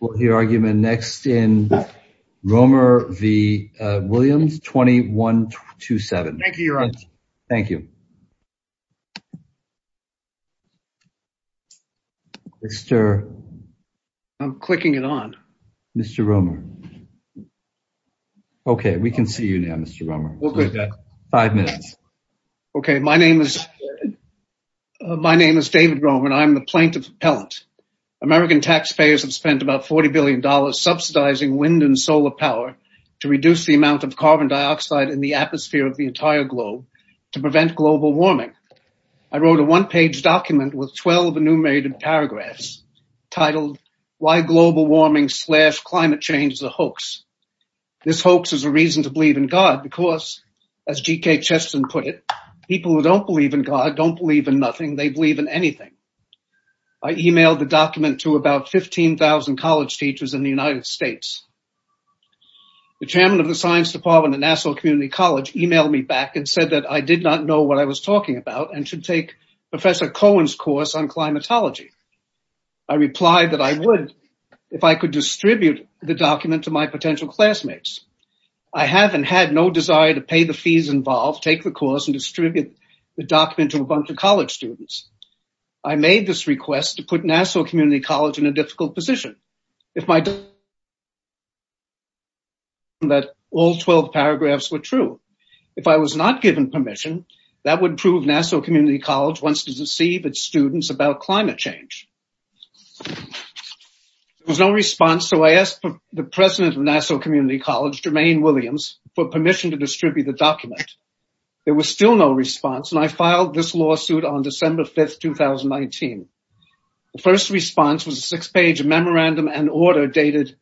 next in Roemer v. Williams, 2127. Thank you, Your Honor. Thank you, Mr. Roemer. I'm clicking it on. Mr. Roemer. Okay, we can see you now, Mr. Roemer. Five minutes. Okay, my name is David Roemer, and I'm the plaintiff appellant. American taxpayers have spent about $40 billion subsidizing wind and solar power to reduce the amount of carbon dioxide in the atmosphere of the entire globe to prevent global warming. I wrote a one-page document with 12 enumerated paragraphs titled, Why Global Warming Slash Climate Change is a Hoax. This hoax is a reason to believe in God because, as G.K. Chesterton put it, people who don't believe in God don't believe in nothing. They believe in anything. I emailed the document to about 15,000 college teachers in the United States. The chairman of the science department at Nassau Community College emailed me back and said that I did not know what I was talking about and should take Professor Cohen's course on climatology. I replied that I would if I could distribute the document to my potential classmates. I have and had no desire to pay the fees involved, take the course, and distribute the document to a bunch of college students. I made this request to put Nassau Community College in a difficult position. If my document was true, that all 12 paragraphs were true. If I was not given permission, that would prove Nassau Community College wants to deceive its students about climate change. There was no response, so I asked the president of Nassau Community College, Jermaine Williams, for permission to distribute the document. There was still no response, and I filed this lawsuit on December 5th, 2019. The first response was a six-page memorandum and order dated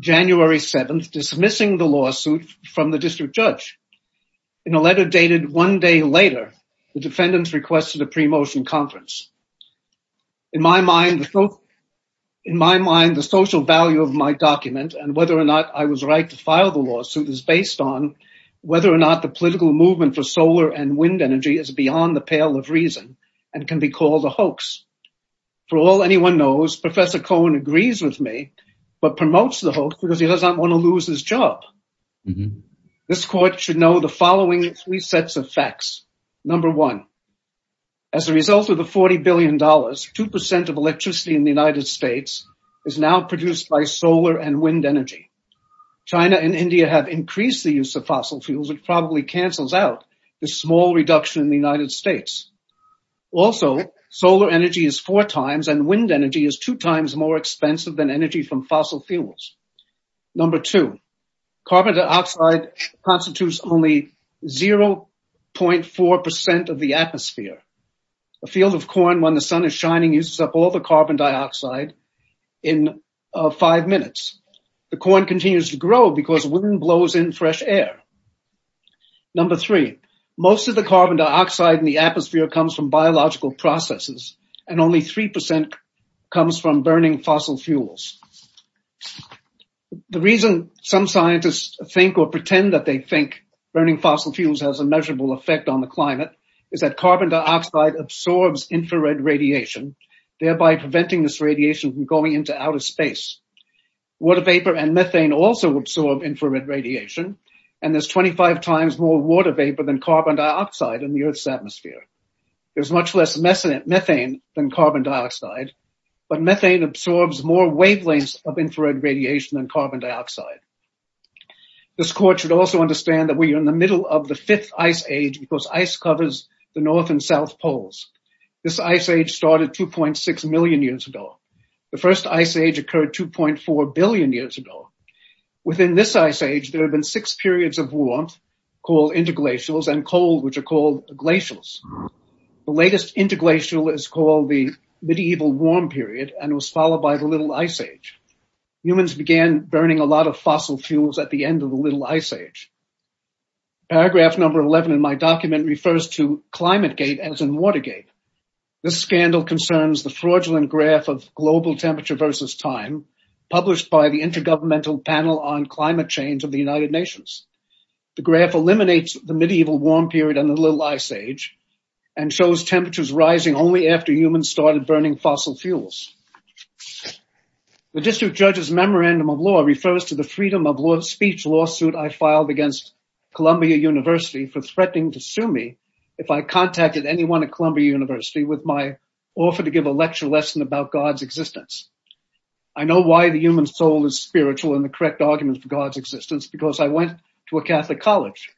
January 7th dismissing the lawsuit from the district judge. In a letter dated one day later, the defendants requested a pre-motion conference. In my mind, the social value of my document and whether or not I was right to file the lawsuit is based on whether or not the political movement for solar and wind energy is beyond the pale of reason and can be called a hoax. For all anyone knows, Professor Cohen agrees with me, but promotes the hoax because he does not want to lose his job. This court should know the following three sets of facts. Number one, as a result of the $40 billion, 2% of electricity in the United States is now produced by solar and wind energy. China and India have increased the use of fossil fuels, which probably cancels out the small reduction in the United States. Also, solar energy is four times and wind energy is two times more expensive than energy from fossil fuels. Number two, carbon dioxide constitutes only 0.4% of the atmosphere. A field of corn, when the sun is shining, uses up all the carbon dioxide in five minutes. The corn continues to grow because wind blows in fresh air. Number three, most of the carbon dioxide in the atmosphere comes from biological processes and only 3% comes from burning fossil fuels. The reason some scientists think or pretend that they think burning fossil fuels has a measurable effect on the climate is that carbon dioxide absorbs infrared radiation, thereby preventing this radiation from going into outer space. Water vapor and methane also absorb infrared radiation, and there's 25 times more water vapor than carbon dioxide in the Earth's atmosphere. There's much less methane than carbon dioxide, but methane absorbs more wavelengths of infrared radiation than carbon dioxide. This court should also understand that we are in the middle of the fifth ice age because ice covers the North and South Poles. This ice age started 2.6 million years ago. The first ice age occurred 2.4 billion years ago. Within this ice age, there have been six periods of warmth, called interglacials, and cold, which are called glacials. The latest interglacial is called the medieval warm period and was followed by the little ice age. Humans began burning a lot of fossil fuels at the end of the little ice age. Paragraph number 11 in my document refers to climate gate as in water gate. This scandal concerns the fraudulent graph of global temperature versus time, published by the Intergovernmental Panel on Climate Change of the United Nations. The graph eliminates the medieval warm period and the little ice age and shows temperatures rising only after humans started burning fossil fuels. The district judge's memorandum of law refers to the freedom of speech lawsuit I filed against Columbia University for threatening to sue me if I contacted anyone at Columbia University with my offer to give a lecture lesson about God's existence. I know why the human soul is spiritual and the correct argument for God's existence because I went to a Catholic college.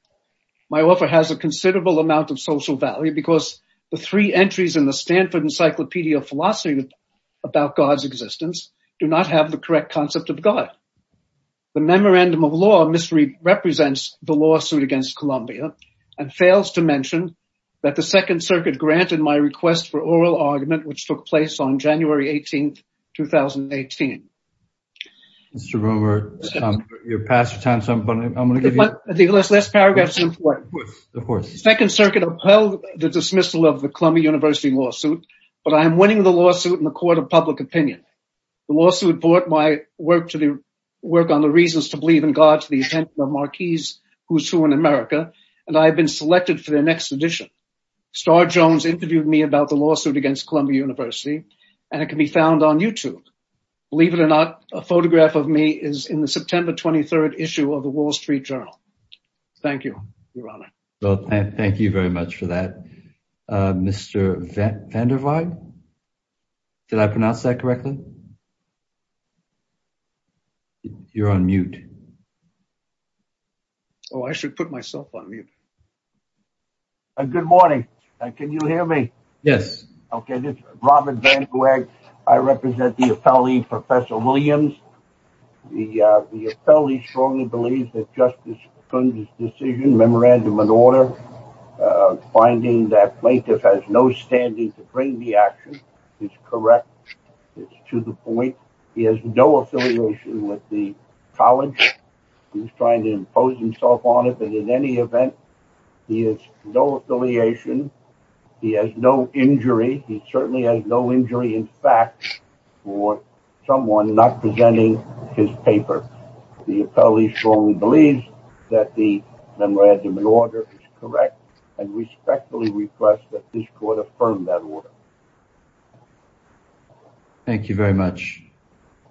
My offer has a considerable amount of social value because the three entries in the Stanford Encyclopedia of Philosophy about God's existence do not have the correct concept of God. The memorandum of law misrepresents the lawsuit against Columbia and fails to mention that the Second Circuit granted my request for oral argument which took place on January 18th, 2018. Mr. Romer, you're past your time so I'm going to give you... The last paragraph is important. The Second Circuit upheld the dismissal of the Columbia University lawsuit but I am winning the lawsuit in the court of public opinion. The lawsuit brought my work to the work on the reasons to believe in God to the attention of marquees who's who in America and I have been selected for the next edition. Star Jones interviewed me about the lawsuit against Columbia University and it can be found on YouTube. Believe it or not, a photograph of me is in the September 23rd issue of the Wall Street Journal. Thank you, Your Honor. Well, thank you very much for that. Mr. Van der Waal, did I pronounce that correctly? You're on mute. Oh, I should put myself on mute. Good morning. Can you hear me? Yes. Okay, this is Robert Van der Waal. I represent the appellee, Professor Williams. The appellee strongly believes that Justice Coons' decision, Memorandum of Order, finding that plaintiff has no standing to bring the action is correct. It's to the point. He has no affiliation with the college. He's trying to impose himself on it but in any event, he has no affiliation. He has no injury in fact for someone not presenting his paper. The appellee strongly believes that the Memorandum of Order is correct and respectfully request that this court affirm that order. Thank you very much.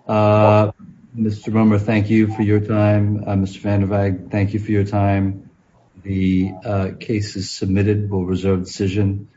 Mr. Brummer, thank you for your time. Mr. Van der Waal, thank you for your time. The case is submitted. We'll reserve decision.